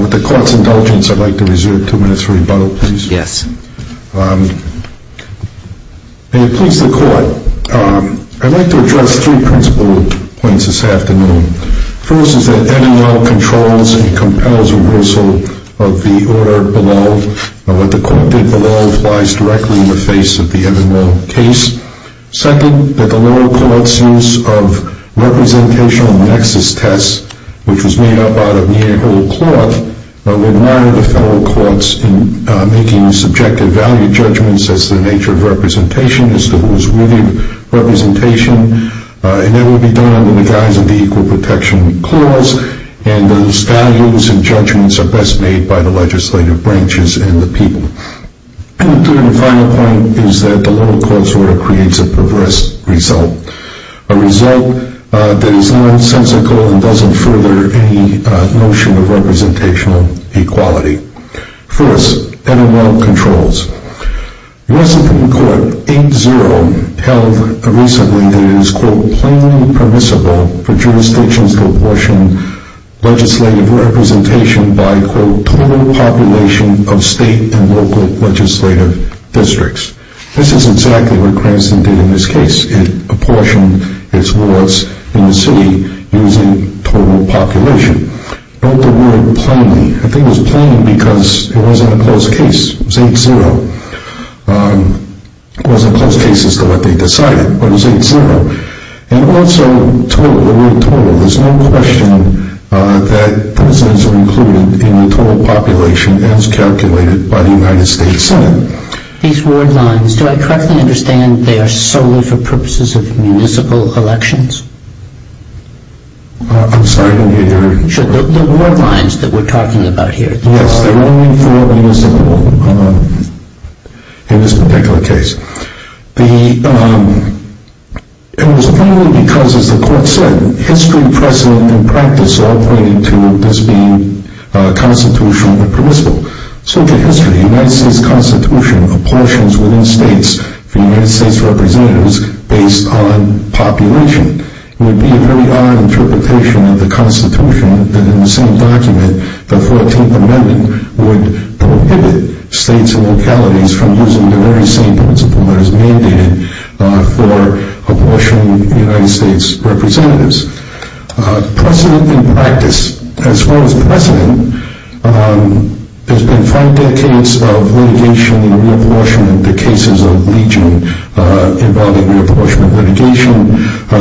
With the Court's indulgence, I'd like to reserve two minutes for rebuttal, please. May it please the Court, I'd like to address three principal points this afternoon. First, is that every law controls and compels reversal of the order below. What the Court did below applies directly in the face of the every law case. Second, that the lower court's use of representational nexus tests, which was made up out of Nehru cloth, would mire the federal courts in making subjective value judgments as to the nature of representation, as to who is within representation, and that would be done under the guise of the Equal Protection Clause, and those values and judgments are best made by the legislative branches and the people. And the third and final point is that the lower court's order creates a perverse result, a result that is nonsensical and doesn't further any notion of representational equality. First, every law controls. Resident Court 8-0 held recently that it is, quote, plainly permissible for jurisdictions to apportion legislative representation by, quote, total population of state and local legislative districts. This is exactly what Cranston did in this case. It apportioned its laws in the city using total population. Note the word plainly. The thing was plain because it wasn't a closed case. It was 8-0. It wasn't closed case as to what they decided, but it was 8-0. And also total, the word total. There's no question that residents are included in the total population as calculated by the United States Senate. These word lines, do I correctly understand they are solely for purposes of municipal elections? I'm sorry. The word lines that we're talking about here. Yes, they're only for municipal in this particular case. It was plainly because, as the court said, history, precedent, and practice all pointed to this being constitutional and permissible. So to history, the United States Constitution apportions within states for United States representatives based on population. It would be a very odd interpretation of the Constitution that in the same document, the 14th Amendment would prohibit states and localities from using the very same principle that is mandated for apportioning United States representatives. Precedent and practice. As far as precedent, there's been five decades of litigation and reapportionment, the cases of leeching involving reapportionment litigation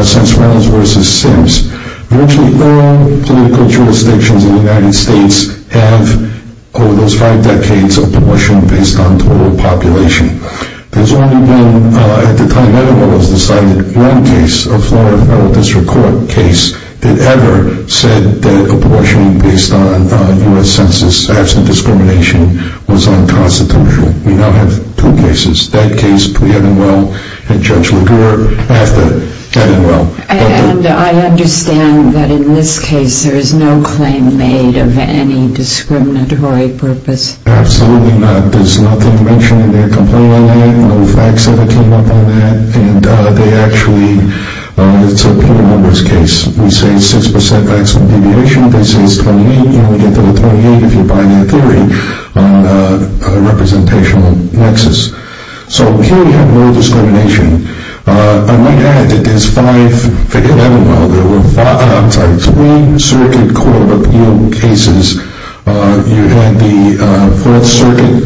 since Wells v. Sims. Virtually all political jurisdictions in the United States have, over those five decades, apportioned based on total population. There's only been, at the time Evanwell was decided, one case, a Florida Federal District Court case, that ever said that apportioning based on U.S. Census absent discrimination was unconstitutional. We now have two cases. That case, pre-Evanwell, and Judge Laguerre after Evanwell. And I understand that in this case there is no claim made of any discriminatory purpose. Absolutely not. There's nothing mentioned in their complaint line. No facts ever came up on that. And they actually, it's a penal numbers case. We say 6% maximum deviation. They say it's 28. You only get to the 28 if you buy their theory on a representational nexus. So here we have no discrimination. I might add that there's five, for Evanwell there were five, I'm sorry, three circuit court appeal cases. You had the 4th Circuit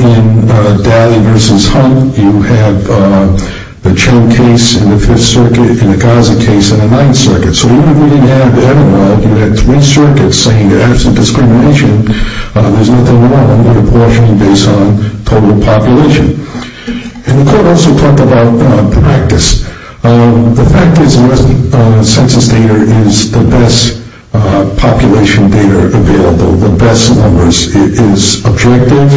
in Daly v. Hunt. You have the Chen case in the 5th Circuit in the Gaza case in the 9th Circuit. So even if we didn't have Evanwell, you had three circuits saying that absent discrimination, there's nothing wrong with apportioning based on total population. And the court also talked about the practice. The fact is census data is the best population data available. The best numbers. It is objective.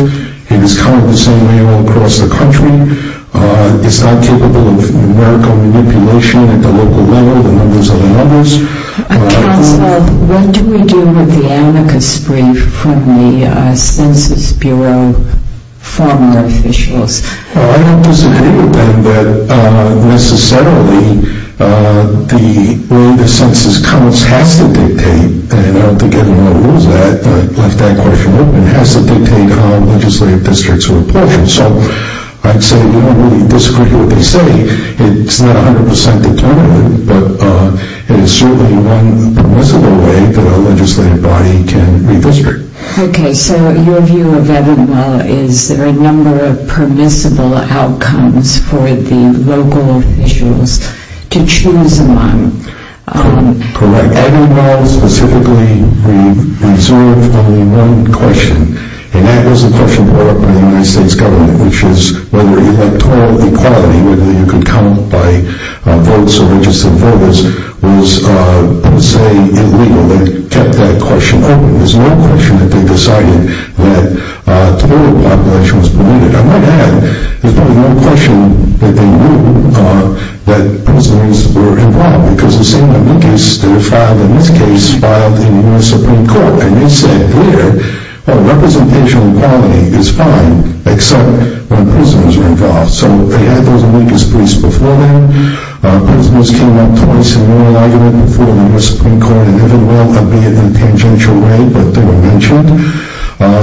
It is counted the same way all across the country. It's not capable of numerical manipulation at the local level. The numbers are the numbers. Counsel, what do we do with the amicus brief from the Census Bureau former officials? Well, I don't disagree with them that necessarily the way the census counts has to dictate, and I don't think anyone knows that, but I've left that question open, has to dictate how legislative districts are apportioned. So I'd say we disagree with what they say. It's not 100 percent determined, but it is certainly one permissible way that a legislative body can redistrict. Okay. So your view of Evanwell is there are a number of permissible outcomes for the local officials to choose among. Correct. Evanwell specifically reserved only one question, and that was a question brought up by the United States government, which is whether electoral equality, whether you could count by votes or registered voters, was, I would say, illegal. They kept that question open. There's no question that they decided that total population was permitted. I might add, there's probably no question that they knew that prisoners were involved, because the same amicus that are filed in this case filed in the U.S. Supreme Court, and they said there, well, representational equality is fine, except when prisoners are involved. So they had those amicus briefs before then. Prisoners came up twice in moral argument before the U.S. Supreme Court, in an Evanwell, albeit in a tangential way, but they were mentioned.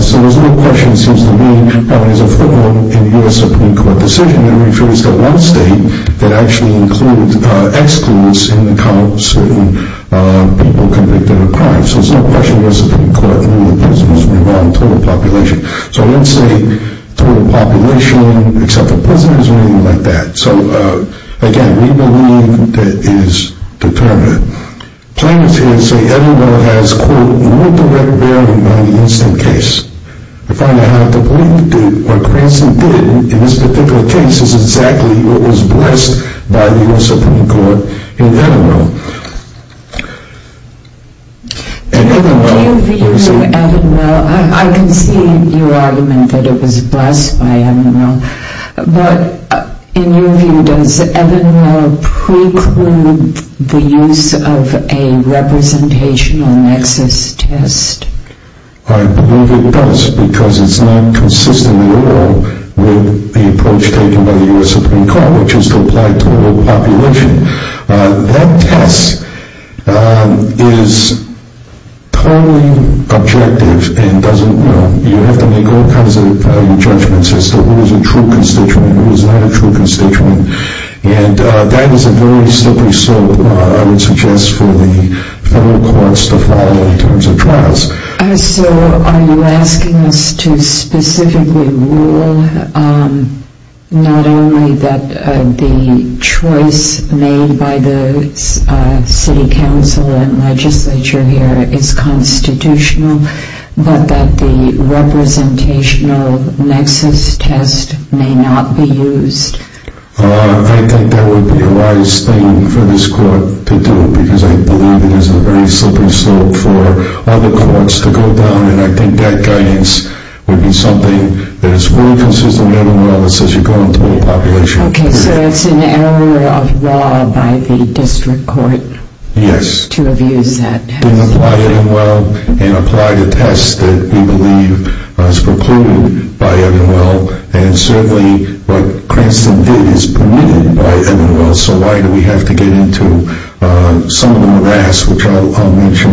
So there's no question, it seems to me, there's a footnote in the U.S. Supreme Court decision that refers to one state that actually includes excludes in the counts of people convicted of a crime. So there's no question the U.S. Supreme Court ruled that prisoners were involved in total population. So I wouldn't say total population, except for prisoners or anything like that. So, again, we believe that it is determined. Plaintiffs here say Evanwell has, quote, no direct bearing on the instant case. I find I have to believe that what Cranston did in this particular case is exactly what was blessed by the U.S. Supreme Court in Evanwell. Do you view Evanwell, I can see your argument that it was blessed by Evanwell, but in your view, does Evanwell preclude the use of a representational nexus test? I believe it does, because it's not consistent at all with the approach taken by the U.S. Supreme Court, which is to apply total population. That test is totally objective and doesn't, you know, make all kinds of judgments as to who is a true constituent and who is not a true constituent. And that is a very slippery slope, I would suggest, for the federal courts to follow in terms of trials. So are you asking us to specifically rule not only that the choice made by the city council and legislature here is constitutional, but that the representational nexus test may not be used? I think that would be the wise thing for this court to do, because I believe it is a very slippery slope for other courts to go down, and I think that guidance would be something that is fully consistent with Evanwell that says you're going through population. Okay, so it's an area of law by the district court to have used that test. They didn't apply Evanwell and apply the test that we believe was precluded by Evanwell, and certainly what Cranston did is permitted by Evanwell, so why do we have to get into some of the morass, which I'll mention,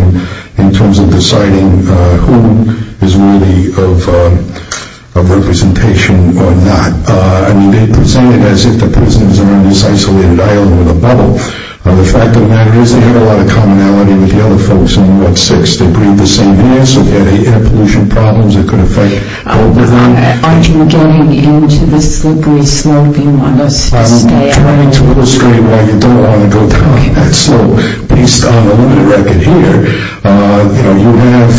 in terms of deciding who is really of representation or not. I mean, they presented it as if the prisons are on this isolated island with a bubble. The fact of the matter is they had a lot of commonality with the other folks in Ward 6. They breathe the same air, so they had air pollution problems that could affect both of them. Aren't you getting into the slippery slope you want us to stay at? I'm trying to illustrate why you don't want to go down that slope. Based on the limited record here, you know, you have,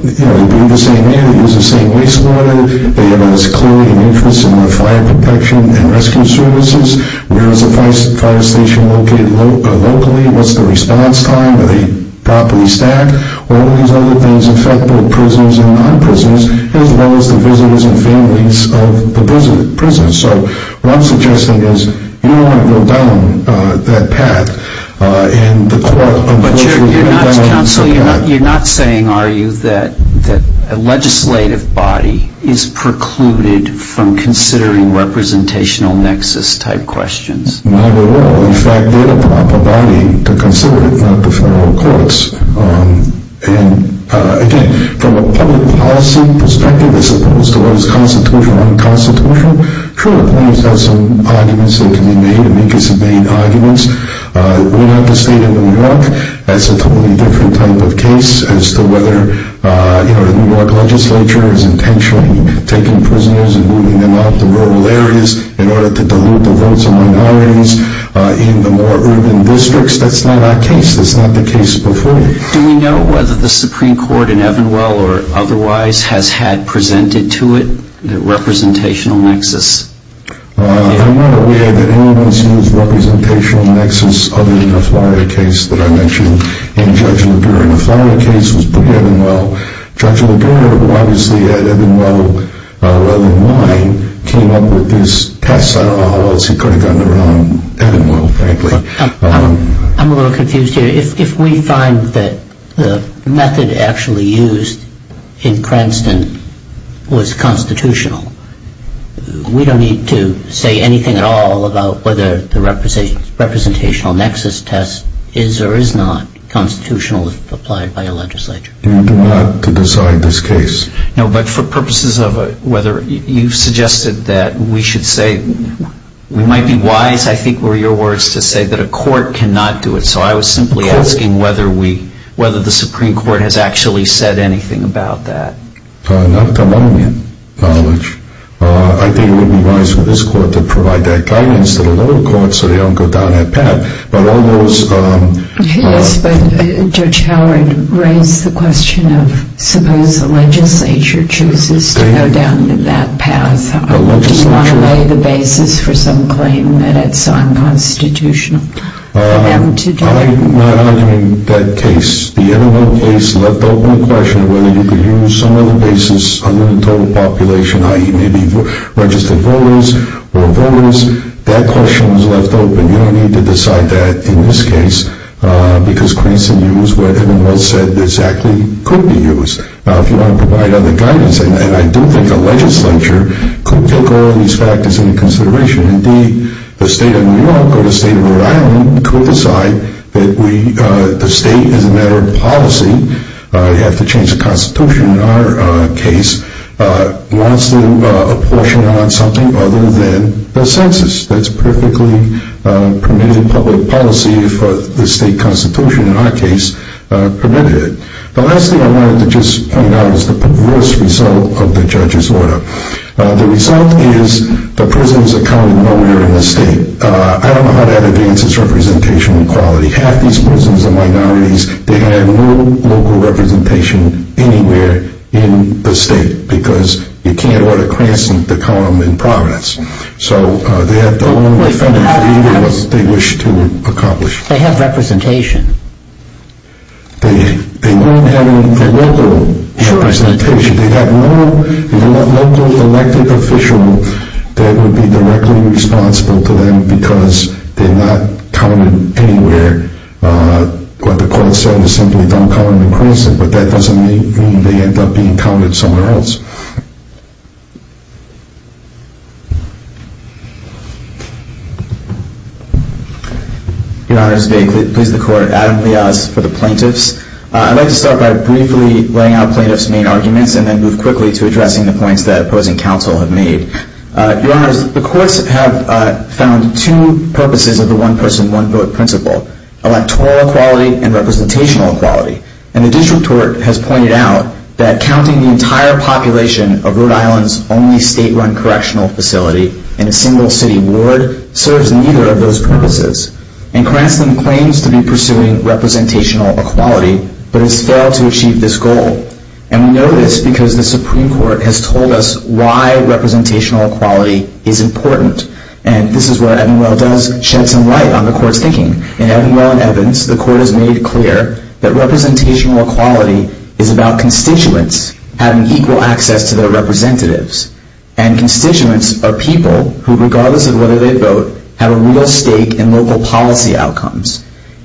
you know, they breathe the same air, they use the same wastewater, they have as clearly an interest in the fire protection and rescue services, where is the fire station located locally, what's the response time, are they properly staffed, all of these other things affect both prisoners and non-prisoners, as well as the visitors and families of the prisoners. So what I'm suggesting is you don't want to go down that path, and the court of those who have done it has forgotten. But you're not saying, are you, that a legislative body is precluded from considering representational nexus type questions? Not at all. In fact, they're the proper body to consider it, not the federal courts. And, again, from a public policy perspective, as opposed to what is constitutional or unconstitutional, sure, there are some arguments that can be made, and we can make some main arguments. We're not the state of New York. That's a totally different type of case as to whether, you know, the New York legislature is intentionally taking prisoners and moving them out to rural areas in order to dilute the votes of minorities in the more urban districts. That's not our case. That's not the case before you. Do we know whether the Supreme Court in Evanwell or otherwise has had presented to it the representational nexus? I'm not aware that anyone's used representational nexus other than the Flier case that I mentioned in Judge LeBure. The Flier case was put to Evanwell. Judge LeBure, who obviously at Evanwell rather than mine, came up with this test. I don't know how else he could have gotten around Evanwell, frankly. I'm a little confused here. If we find that the method actually used in Cranston was constitutional, we don't need to say anything at all about whether the representational nexus test is or is not constitutional if applied by a legislature. You do not have to decide this case. No, but for purposes of whether you've suggested that we should say we might be wise, I think, were your words to say that a court cannot do it. So I was simply asking whether the Supreme Court has actually said anything about that. Not to my knowledge. I think it would be wise for this court to provide that guidance to the lower court so they don't go down that path. Yes, but Judge Howard raised the question of suppose the legislature chooses to go down that path. Do you want to lay the basis for some claim that it's unconstitutional for them to do it? I'm not arguing that case. The Evanwell case left open the question of whether you could use some other basis under the total population, i.e. maybe registered voters or voters. That question was left open. You don't need to decide that in this case because Creason used what Evanwell said exactly could be used. Now, if you want to provide other guidance, and I do think a legislature could take all of these factors into consideration. Indeed, the state of New York or the state of Rhode Island could decide that the state, as a matter of policy, you have to change the constitution in our case, wants to apportion on something other than the census. That's perfectly permitted public policy for the state constitution in our case permitted it. The last thing I wanted to just point out is the perverse result of the judge's order. The result is the prisons are counted nowhere in the state. I don't know how that advances representation equality. Half these prisons are minorities. They have no local representation anywhere in the state because you can't order Creason to count them in Providence. So they have no one to defend them for either what they wish to accomplish. They have representation. They don't have local representation. They have no local elected official that would be directly responsible to them because they're not counted anywhere. What the court said is simply don't count them in Creason, but that doesn't mean they end up being counted somewhere else. Your Honors, may it please the Court, Adam Liaz for the plaintiffs. I'd like to start by briefly laying out plaintiffs' main arguments and then move quickly to addressing the points that opposing counsel have made. Your Honors, the courts have found two purposes of the one-person, one-vote principle, electoral equality and representational equality. And the district court has pointed out that counting the entire population of Rhode Island's only state-run correctional facility in a single city ward serves neither of those purposes. And Creason claims to be pursuing representational equality, but has failed to achieve this goal. And we know this because the Supreme Court has told us why representational equality is important. And this is where Evanwell does shed some light on the court's thinking. In Evanwell and Evans, the court has made clear that representational equality is about constituents having equal access to their representatives. And constituents are people who, regardless of whether they vote, have a real stake in local policy outcomes.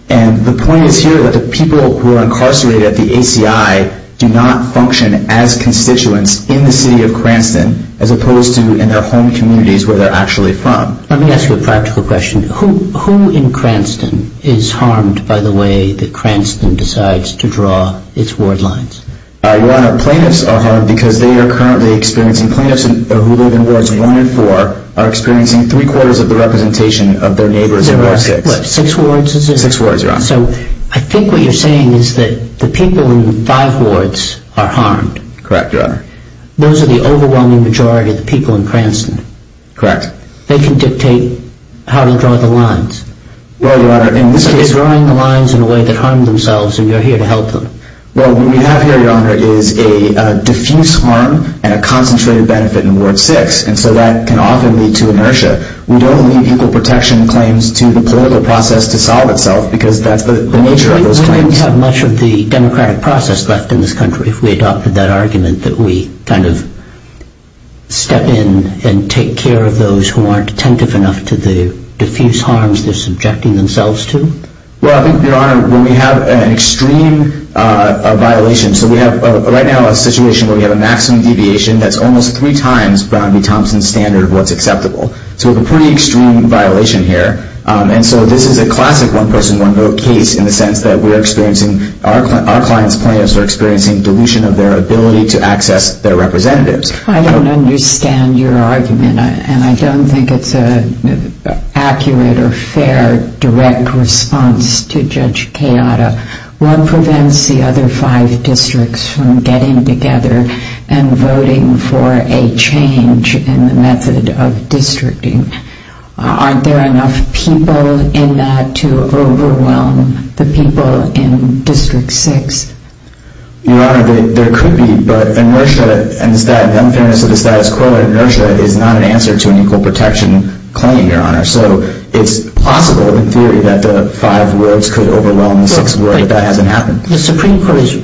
And the point is here that the people who are incarcerated at the ACI do not function as constituents in the city of Cranston as opposed to in their home communities where they're actually from. Let me ask you a practical question. Who in Cranston is harmed by the way that Cranston decides to draw its ward lines? Your Honor, plaintiffs are harmed because they are currently experiencing, plaintiffs who live in wards one and four are experiencing three-quarters of the representation of their neighbors in ward six. What, six wards is it? Six wards, Your Honor. So I think what you're saying is that the people in five wards are harmed. Correct, Your Honor. Those are the overwhelming majority of the people in Cranston. Correct. They can dictate how to draw the lines. Well, Your Honor, in this case They're drawing the lines in a way that harm themselves and you're here to help them. Well, what we have here, Your Honor, is a diffuse harm and a concentrated benefit in ward six. And so that can often lead to inertia. We don't leave equal protection claims to the political process to solve itself because that's the nature of those claims. We wouldn't have much of the democratic process left in this country if we adopted that argument that we kind of step in and take care of those who aren't attentive enough to the diffuse harms they're subjecting themselves to. Well, I think, Your Honor, when we have an extreme violation, so we have right now a situation where we have a maximum deviation that's almost three times Brown v. Thompson's standard of what's acceptable. So we have a pretty extreme violation here. And so this is a classic one-person, one-vote case in the sense that we're experiencing, our clients' plaintiffs are experiencing dilution of their ability to access their representatives. I don't understand your argument. And I don't think it's an accurate or fair direct response to Judge Keada. One prevents the other five districts from getting together and voting for a change in the method of districting. Aren't there enough people in that to overwhelm the people in District 6? Your Honor, there could be, but inertia and the unfairness of the status quo, inertia is not an answer to an equal protection claim, Your Honor. So it's possible in theory that the five worlds could overwhelm the six worlds, but that hasn't happened. The Supreme Court has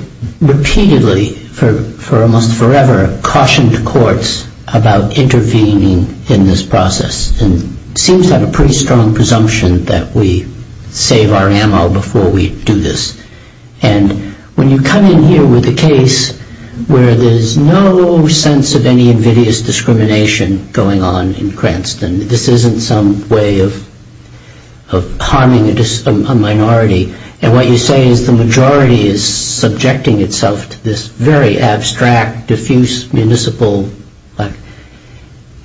repeatedly, for almost forever, cautioned courts about intervening in this process and seems to have a pretty strong presumption that we save our ammo before we do this. And when you come in here with a case where there's no sense of any invidious discrimination going on in Cranston, this isn't some way of harming a minority. And what you say is the majority is subjecting itself to this very abstract, diffuse, municipal.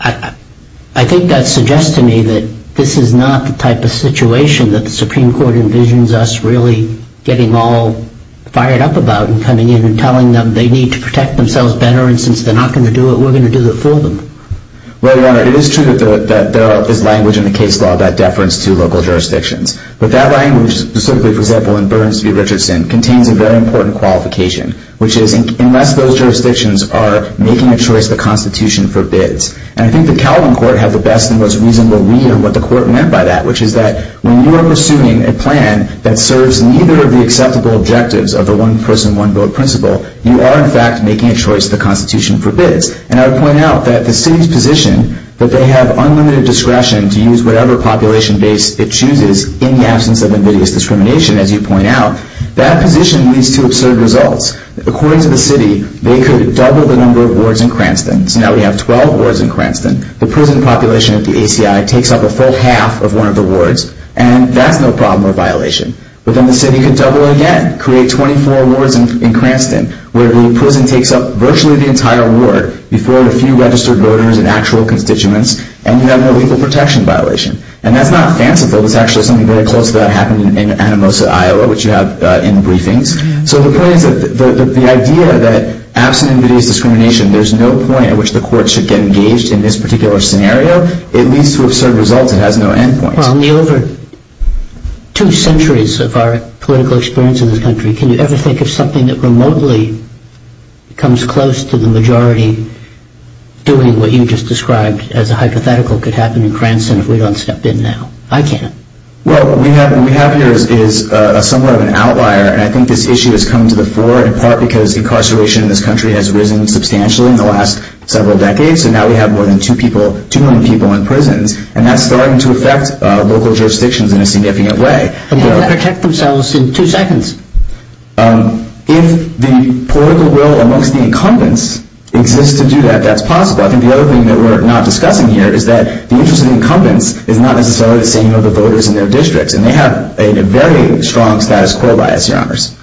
I think that suggests to me that this is not the type of situation that the Supreme Court envisions us really getting all fired up about and coming in and telling them they need to protect themselves better, and since they're not going to do it, we're going to do it for them. Well, Your Honor, it is true that there is language in the case law about deference to local jurisdictions. But that language, specifically, for example, in Burns v. Richardson, contains a very important qualification, which is unless those jurisdictions are making a choice the Constitution forbids. And I think the Calvin Court had the best and most reasonable read on what the Court meant by that, which is that when you are pursuing a plan that serves neither of the acceptable objectives of the one-person, one-vote principle, you are, in fact, making a choice the Constitution forbids. And I would point out that the city's position that they have unlimited discretion to use whatever population base it chooses in the absence of invidious discrimination, as you point out, that position leads to absurd results. According to the city, they could double the number of wards in Cranston. So now we have 12 wards in Cranston. The prison population at the ACI takes up a full half of one of the wards, and that's no problem or violation. But then the city could double again, create 24 wards in Cranston, where the prison takes up virtually the entire ward. You throw in a few registered voters and actual constituents, and you have no legal protection violation. And that's not fanciful. That's actually something very close to what happened in Anamosa, Iowa, which you have in the briefings. So the point is that the idea that absent invidious discrimination, there's no point at which the Court should get engaged in this particular scenario, it leads to absurd results. It has no end points. Well, in the over two centuries of our political experience in this country, can you ever think of something that remotely comes close to the majority doing what you just described as a hypothetical could happen in Cranston if we don't step in now? I can't. Well, what we have here is somewhat of an outlier, and I think this issue has come to the fore, in part because incarceration in this country has risen substantially in the last several decades, and now we have more than 2 million people in prisons, and that's starting to affect local jurisdictions in a significant way. And they can't protect themselves in two seconds. If the political will amongst the incumbents exists to do that, that's possible. I think the other thing that we're not discussing here is that the interest of the incumbents is not necessarily the same of the voters in their districts, and they have a very strong status quo bias, Your Honors.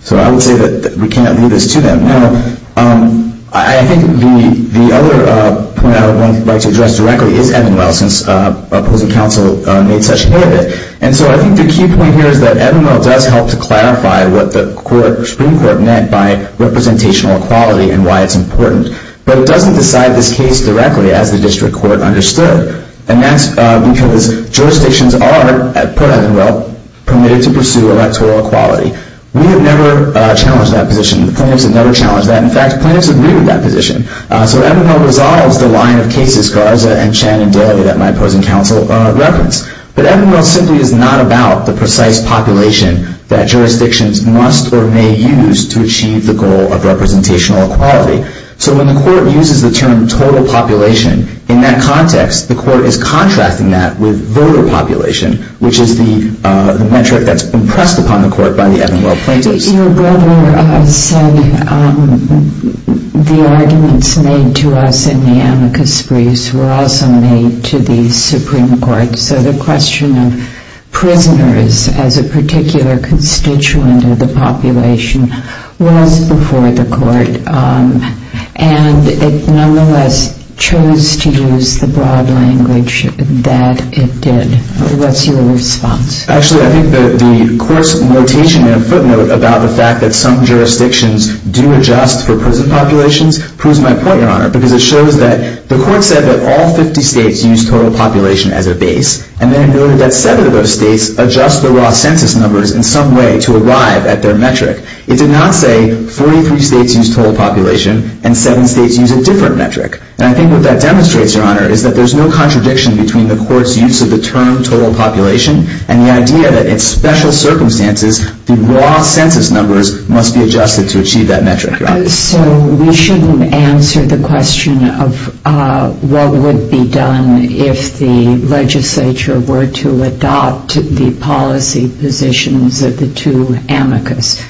So I would say that we can't leave this to them. Now, I think the other point I would like to address directly is Evan Wells, since opposing counsel made such a point of it, and so I think the key point here is that Evan Wells does help to clarify what the Supreme Court meant by representational equality and why it's important, but it doesn't decide this case directly as the district court understood, and that's because jurisdictions are, per Evan Wells, permitted to pursue electoral equality. We have never challenged that position. The plaintiffs have never challenged that. In fact, the plaintiffs agreed with that position. So Evan Wells resolves the line of cases Garza and Shannon did at my opposing counsel reference, but Evan Wells simply is not about the precise population that jurisdictions must or may use to achieve the goal of representational equality. So when the court uses the term total population, in that context, the court is contrasting that with voter population, which is the metric that's impressed upon the court by the Evan Wells plaintiffs. Your brother said the arguments made to us in the amicus briefs were also made to the Supreme Court, so the question of prisoners as a particular constituent of the population was before the court, and it nonetheless chose to use the broad language that it did. What's your response? Actually, I think the court's notation in a footnote about the fact that some jurisdictions do adjust for prison populations proves my point, Your Honor, because it shows that the court said that all 50 states use total population as a base, and then it noted that seven of those states adjust the raw census numbers in some way to arrive at their metric. It did not say 43 states use total population and seven states use a different metric, is that there's no contradiction between the court's use of the term total population and the idea that in special circumstances, the raw census numbers must be adjusted to achieve that metric. So we shouldn't answer the question of what would be done if the legislature were to adopt the policy positions of the two amicus.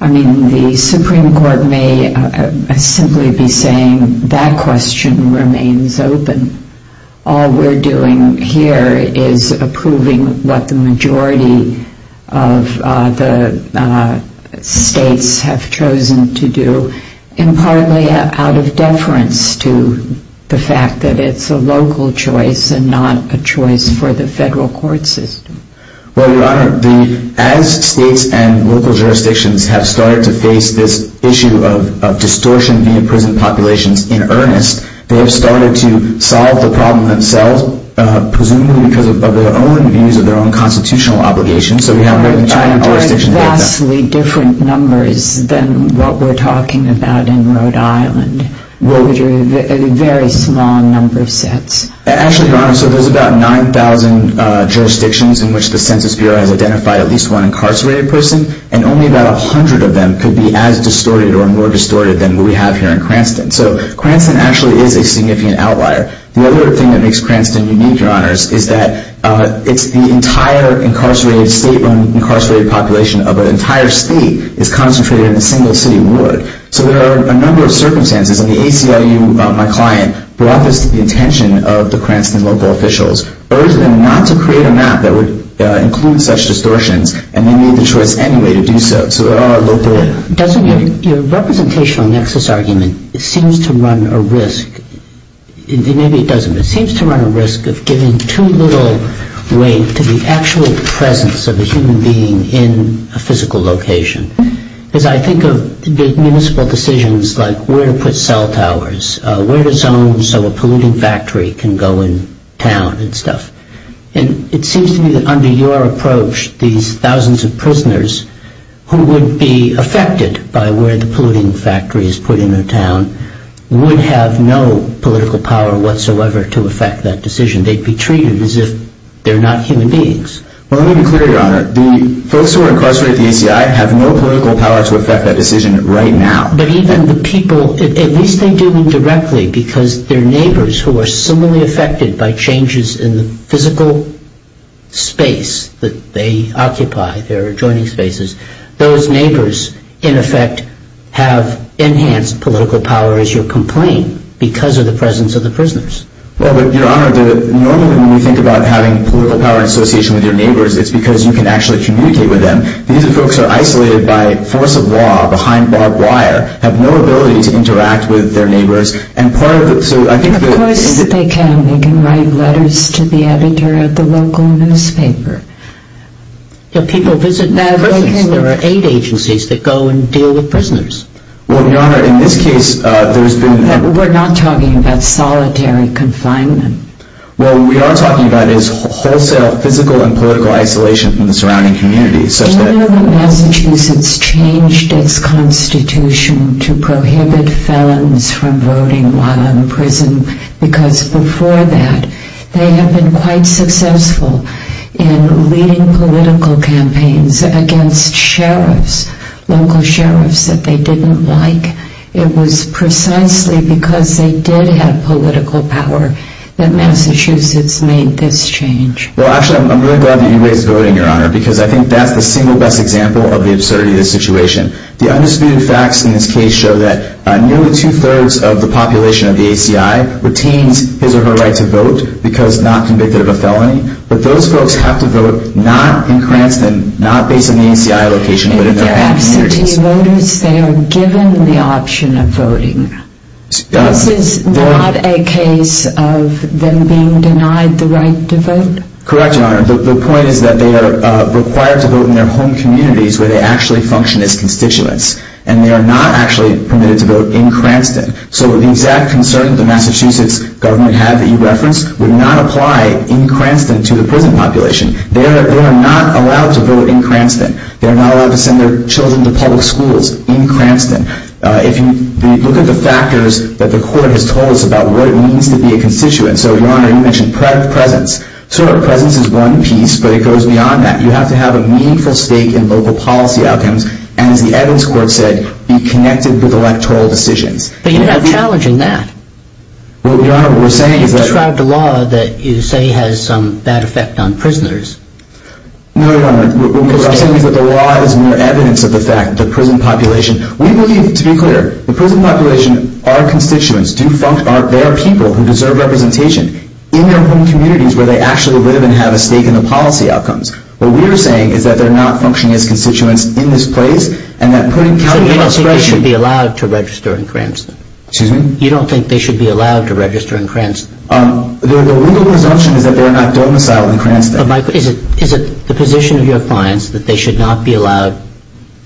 I mean, the Supreme Court may simply be saying that question remains open. All we're doing here is approving what the majority of the states have chosen to do, and partly out of deference to the fact that it's a local choice and not a choice for the federal court system. Well, Your Honor, as states and local jurisdictions have started to face this issue of distortion via prison populations in earnest, they have started to solve the problem themselves, presumably because of their own views of their own constitutional obligations. So we haven't really turned our attention to that. There are vastly different numbers than what we're talking about in Rhode Island. What would you—a very small number of sets. Actually, Your Honor, so there's about 9,000 jurisdictions in which the Census Bureau has identified at least one incarcerated person, and only about 100 of them could be as distorted or more distorted than what we have here in Cranston. So Cranston actually is a significant outlier. The other thing that makes Cranston unique, Your Honors, is that it's the entire incarcerated state or incarcerated population of an entire state is concentrated in a single city ward. So there are a number of circumstances, and the ACLU, my client, brought this to the attention of the Cranston local officials, urged them not to create a map that would include such distortions, and they made the choice anyway to do so. So there are local— Doesn't your representational nexus argument, it seems to run a risk—maybe it doesn't, but it seems to run a risk of giving too little weight to the actual presence of a human being in a physical location. Because I think of big municipal decisions like where to put cell towers, where to zone so a polluting factory can go in town and stuff. And it seems to me that under your approach, these thousands of prisoners who would be affected by where the polluting factory is put in a town would have no political power whatsoever to affect that decision. They'd be treated as if they're not human beings. Well, let me be clear, Your Honor. The folks who are incarcerated at the ACI have no political power to affect that decision right now. But even the people—at least they do indirectly, because they're neighbors who are similarly affected by changes in the physical space that they occupy, their adjoining spaces. Those neighbors, in effect, have enhanced political power, as you'll complain, because of the presence of the prisoners. Well, but, Your Honor, normally when you think about having political power in association with your neighbors, it's because you can actually communicate with them. These folks are isolated by force of law behind barbed wire, have no ability to interact with their neighbors, and part of the— Of course they can. They can write letters to the editor of the local newspaper. People visit— There are aid agencies that go and deal with prisoners. Well, Your Honor, in this case, there's been— We're not talking about solitary confinement. Well, what we are talking about is wholesale physical and political isolation from the surrounding communities, such that— Do you know that Massachusetts changed its constitution to prohibit felons from voting while in prison? Because before that, they had been quite successful in leading political campaigns against sheriffs, local sheriffs that they didn't like. It was precisely because they did have political power that Massachusetts made this change. Well, actually, I'm really glad that you raised voting, Your Honor, because I think that's the single best example of the absurdity of the situation. The undisputed facts in this case show that nearly two-thirds of the population of the ACI retains his or her right to vote because not convicted of a felony, but those folks have to vote not in Cranston, not based in the ACI location, but in their home communities. But to voters, they are given the option of voting. This is not a case of them being denied the right to vote? Correct, Your Honor. The point is that they are required to vote in their home communities where they actually function as constituents, and they are not actually permitted to vote in Cranston. So the exact concern that the Massachusetts government had that you referenced would not apply in Cranston to the prison population. They are not allowed to vote in Cranston. They are not allowed to send their children to public schools in Cranston. If you look at the factors that the court has told us about what it means to be a constituent, so, Your Honor, you mentioned presence. Sure, presence is one piece, but it goes beyond that. You have to have a meaningful stake in local policy outcomes, and, as the Evans court said, be connected with electoral decisions. But you're not challenging that. Well, Your Honor, what we're saying is that... You've described a law that you say has some bad effect on prisoners. No, Your Honor. What I'm saying is that the law is more evidence of the fact that the prison population... We believe, to be clear, the prison population, our constituents, are people who deserve representation in their home communities where they actually live and have a stake in the policy outcomes. What we are saying is that they are not functioning as constituents in this place, and that putting county law... So you don't think they should be allowed to register in Cranston? Excuse me? You don't think they should be allowed to register in Cranston? The legal presumption is that they are not domiciled in Cranston. But, Michael, is it the position of your clients that they should not be allowed...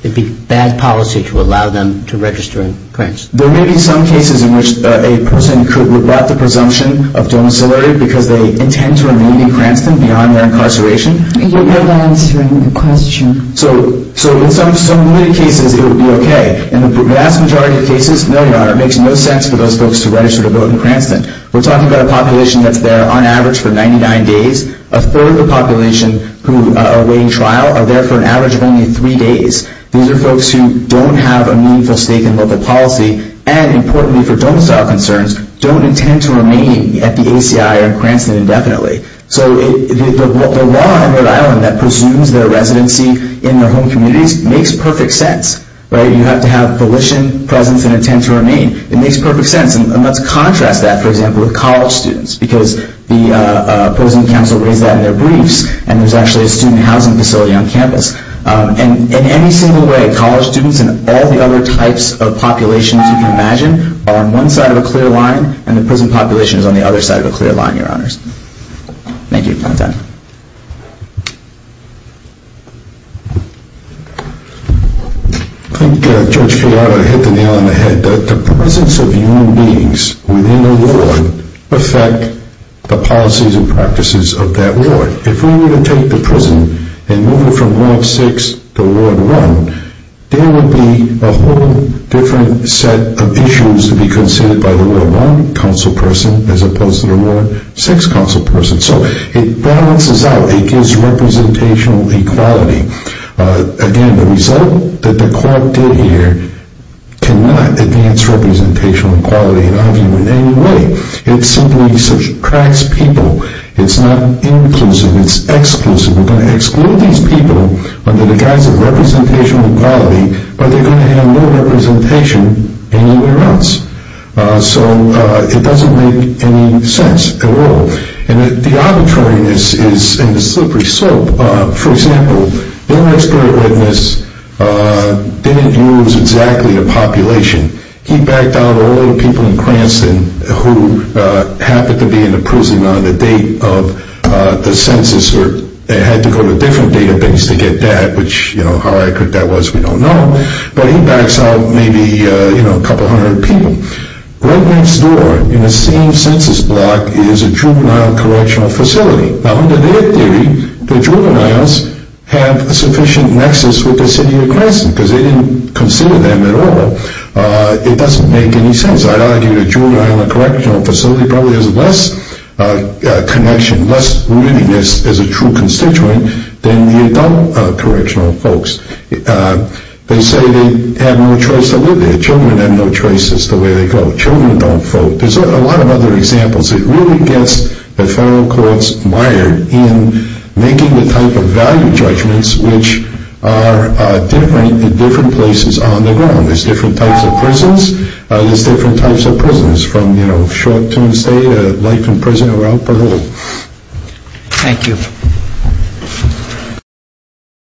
it would be bad policy to allow them to register in Cranston? There may be some cases in which a person could rebut the presumption of domiciliary because they intend to remain in Cranston beyond their incarceration. You're not answering the question. So, in some limited cases, it would be okay. In the vast majority of cases, no, Your Honor, it makes no sense for those folks to register to vote in Cranston. We're talking about a population that's there, on average, for 99 days. A third of the population who are awaiting trial are there for an average of only three days. These are folks who don't have a meaningful stake in local policy, and importantly for domicile concerns, don't intend to remain at the ACI or Cranston indefinitely. So the law in Rhode Island that presumes their residency in their home communities makes perfect sense. You have to have volition, presence, and intent to remain. It makes perfect sense. And let's contrast that, for example, with college students because the prison council raised that in their briefs, and there's actually a student housing facility on campus. And in any single way, college students and all the other types of populations you can imagine are on one side of a clear line, and the prison population is on the other side of a clear line, Your Honors. Thank you. I'm done. I think Judge Fiala hit the nail on the head. The presence of human beings within the ward affects the policies and practices of that ward. If we were to take the prison and move it from Ward 6 to Ward 1, there would be a whole different set of issues to be considered by the Ward 1 council person as opposed to the Ward 6 council person. So it balances out. It gives representational equality. Again, the result that the court did here cannot advance representational equality in our view in any way. It simply subtracts people. It's not inclusive. It's exclusive. We're going to exclude these people under the guise of representational equality, or they're going to have no representation anywhere else. So it doesn't make any sense at all. And the arbitrariness is in the slippery slope. For example, the inmate spirit witness didn't use exactly the population. He backed out all the people in Cranston who happened to be in the prison on the date of the census or had to go to a different database to get that, which how accurate that was we don't know. But he backs out maybe a couple hundred people. Right next door in the same census block is a juvenile correctional facility. Now, under their theory, the juveniles have a sufficient nexus with the city of Cranston because they didn't consider them at all. It doesn't make any sense. I'd argue the juvenile correctional facility probably has less connection, less willingness as a true constituent than the adult correctional folks. They say they have no choice to live there. They go, children don't vote. There's a lot of other examples. It really gets the federal courts mired in making the type of value judgments which are different in different places on the ground. There's different types of prisons. There's different types of prisons from, you know, short-term stay to life in prison or out parole. Thank you.